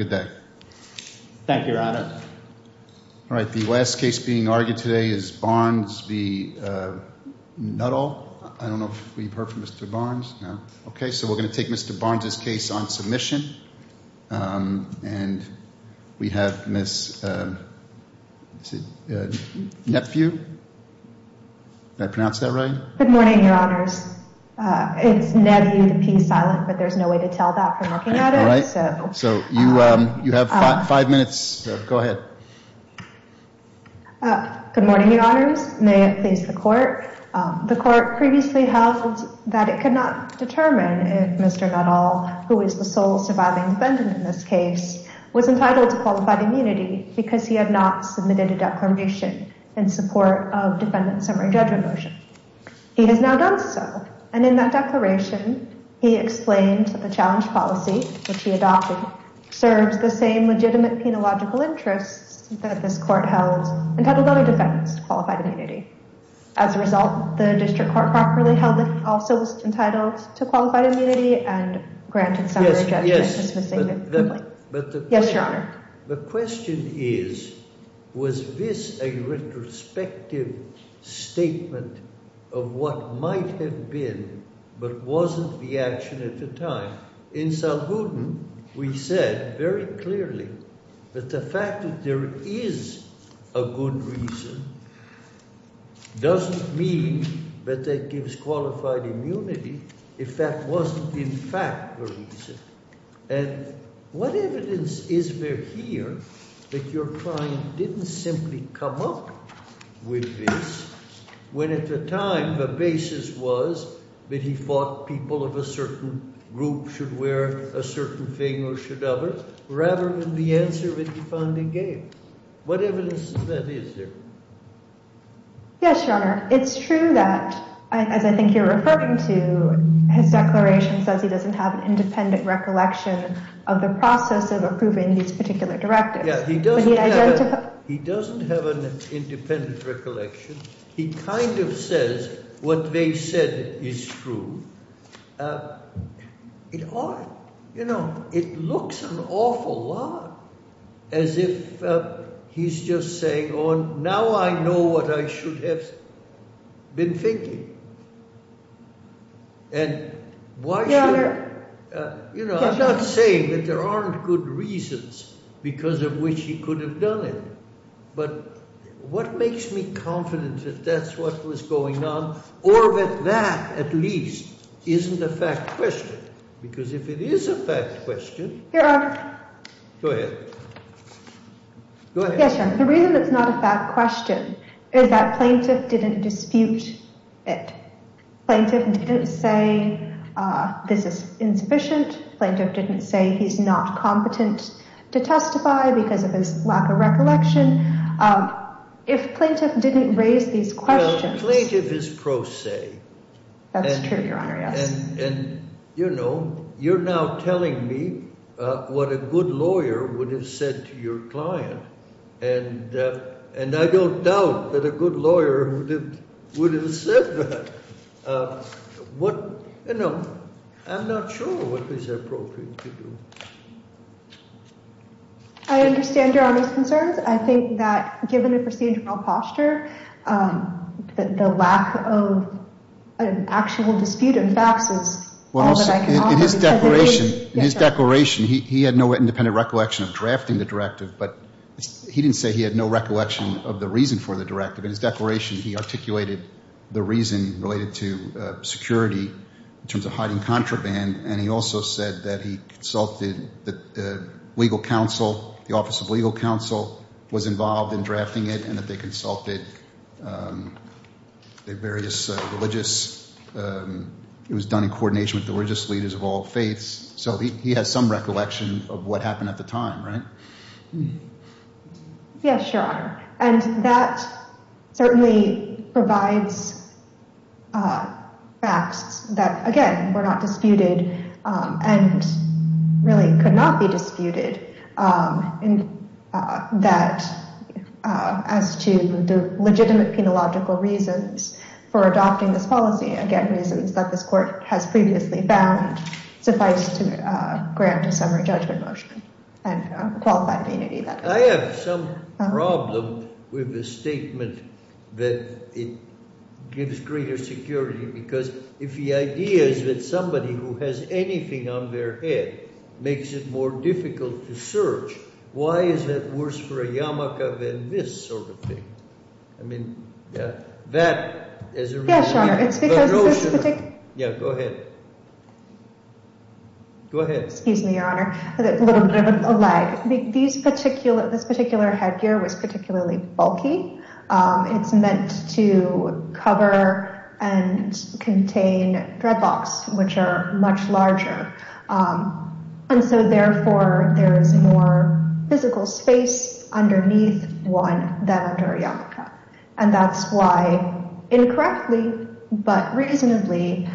Good day. Thank you, Your Honor. All right. The last case being argued today is Barnes v. Nuttall. I don't know if we've heard from Mr. Barnes. Okay, so we're going to take Mr. Barnes's case on submission. And we have Miss Nephew. Did I pronounce that right? Good morning, Your Honors. It's Nephew. The P is silent, but there's no way to tell that from looking at it. So you have five minutes. Go ahead. Good morning, Your Honors. May it please the court. The court previously held that it could not determine if Mr. Nuttall, who is the sole surviving defendant in this case, was entitled to qualified immunity because he had not submitted a declamation in support of defendant's summary judgment motion. He has now done so, and in that declaration, he explained that the challenge policy, which he adopted, serves the same legitimate penological interests that this court held entitled only defendants to qualified immunity. As a result, the district court properly held that he also was entitled to qualified immunity and granted summary judgment. Yes, Your Honor. The question is, was this a retrospective statement of what might have been, but wasn't the action at the time? In Salbuden, we said very clearly that the fact that there is a good reason doesn't mean that that gives qualified immunity if that wasn't in fact the reason. And what evidence is there here that your client didn't simply come up with this when at the time the basis was that he thought people of a certain group should wear a certain thing or should other, rather than the answer that he found he gave? What evidence of that is there? Yes, Your Honor. It's true that, as I think you're referring to, his declaration says he doesn't have an independent recollection of the process of approving these particular directives. He doesn't have an independent recollection. He kind of says what they said is true. You know, it looks an awful lot as if he's just saying, oh, now I know what I should have been thinking. And why should – you know, I'm not saying that there aren't good reasons because of which he could have done it. But what makes me confident that that's what was going on or that that, at least, isn't a fact question? Because if it is a fact question – Your Honor. Go ahead. Go ahead. Yes, Your Honor. The reason it's not a fact question is that plaintiff didn't dispute it. Plaintiff didn't say this is insufficient. Plaintiff didn't say he's not competent to testify because of his lack of recollection. If plaintiff didn't raise these questions – Well, plaintiff is pro se. That's true, Your Honor, yes. And, you know, you're now telling me what a good lawyer would have said to your client. And I don't doubt that a good lawyer would have said that. What – you know, I'm not sure what is appropriate to do. I understand Your Honor's concerns. I think that given the procedural posture, the lack of an actual dispute of facts is all that I can offer. In his declaration, he had no independent recollection of drafting the directive, but he didn't say he had no recollection of the reason for the directive. In his declaration, he articulated the reason related to security in terms of hiding contraband, and he also said that he consulted the legal counsel, the Office of Legal Counsel, was involved in drafting it, and that they consulted the various religious – it was done in coordination with religious leaders of all faiths. So he has some recollection of what happened at the time, right? Yes, Your Honor, and that certainly provides facts that, again, were not disputed and really could not be disputed that as to the legitimate penological reasons for adopting this policy, again, reasons that this court has previously found suffice to grant a summary judgment motion and qualified immunity that way. I have some problem with the statement that it gives greater security, because if the idea is that somebody who has anything on their head makes it more difficult to search, why is that worse for a yarmulke than this sort of thing? I mean, that as a – Yes, Your Honor, it's because this particular – Yeah, go ahead. Go ahead. Excuse me, Your Honor, a little bit of a lag. This particular headgear was particularly bulky. It's meant to cover and contain dreadlocks, which are much larger. And so, therefore, there is more physical space underneath one than under a yarmulke. And that's why, incorrectly but reasonably,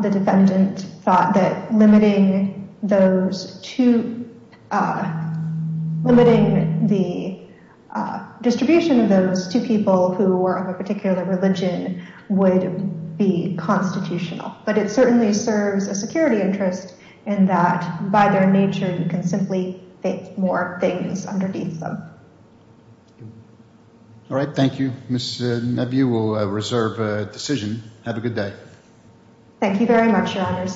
the defendant thought that limiting those two – limiting the distribution of those two people who were of a particular religion would be constitutional. But it certainly serves a security interest in that, by their nature, you can simply fit more things underneath them. All right. Thank you. Ms. Neview will reserve a decision. Have a good day. Thank you very much, Your Honors.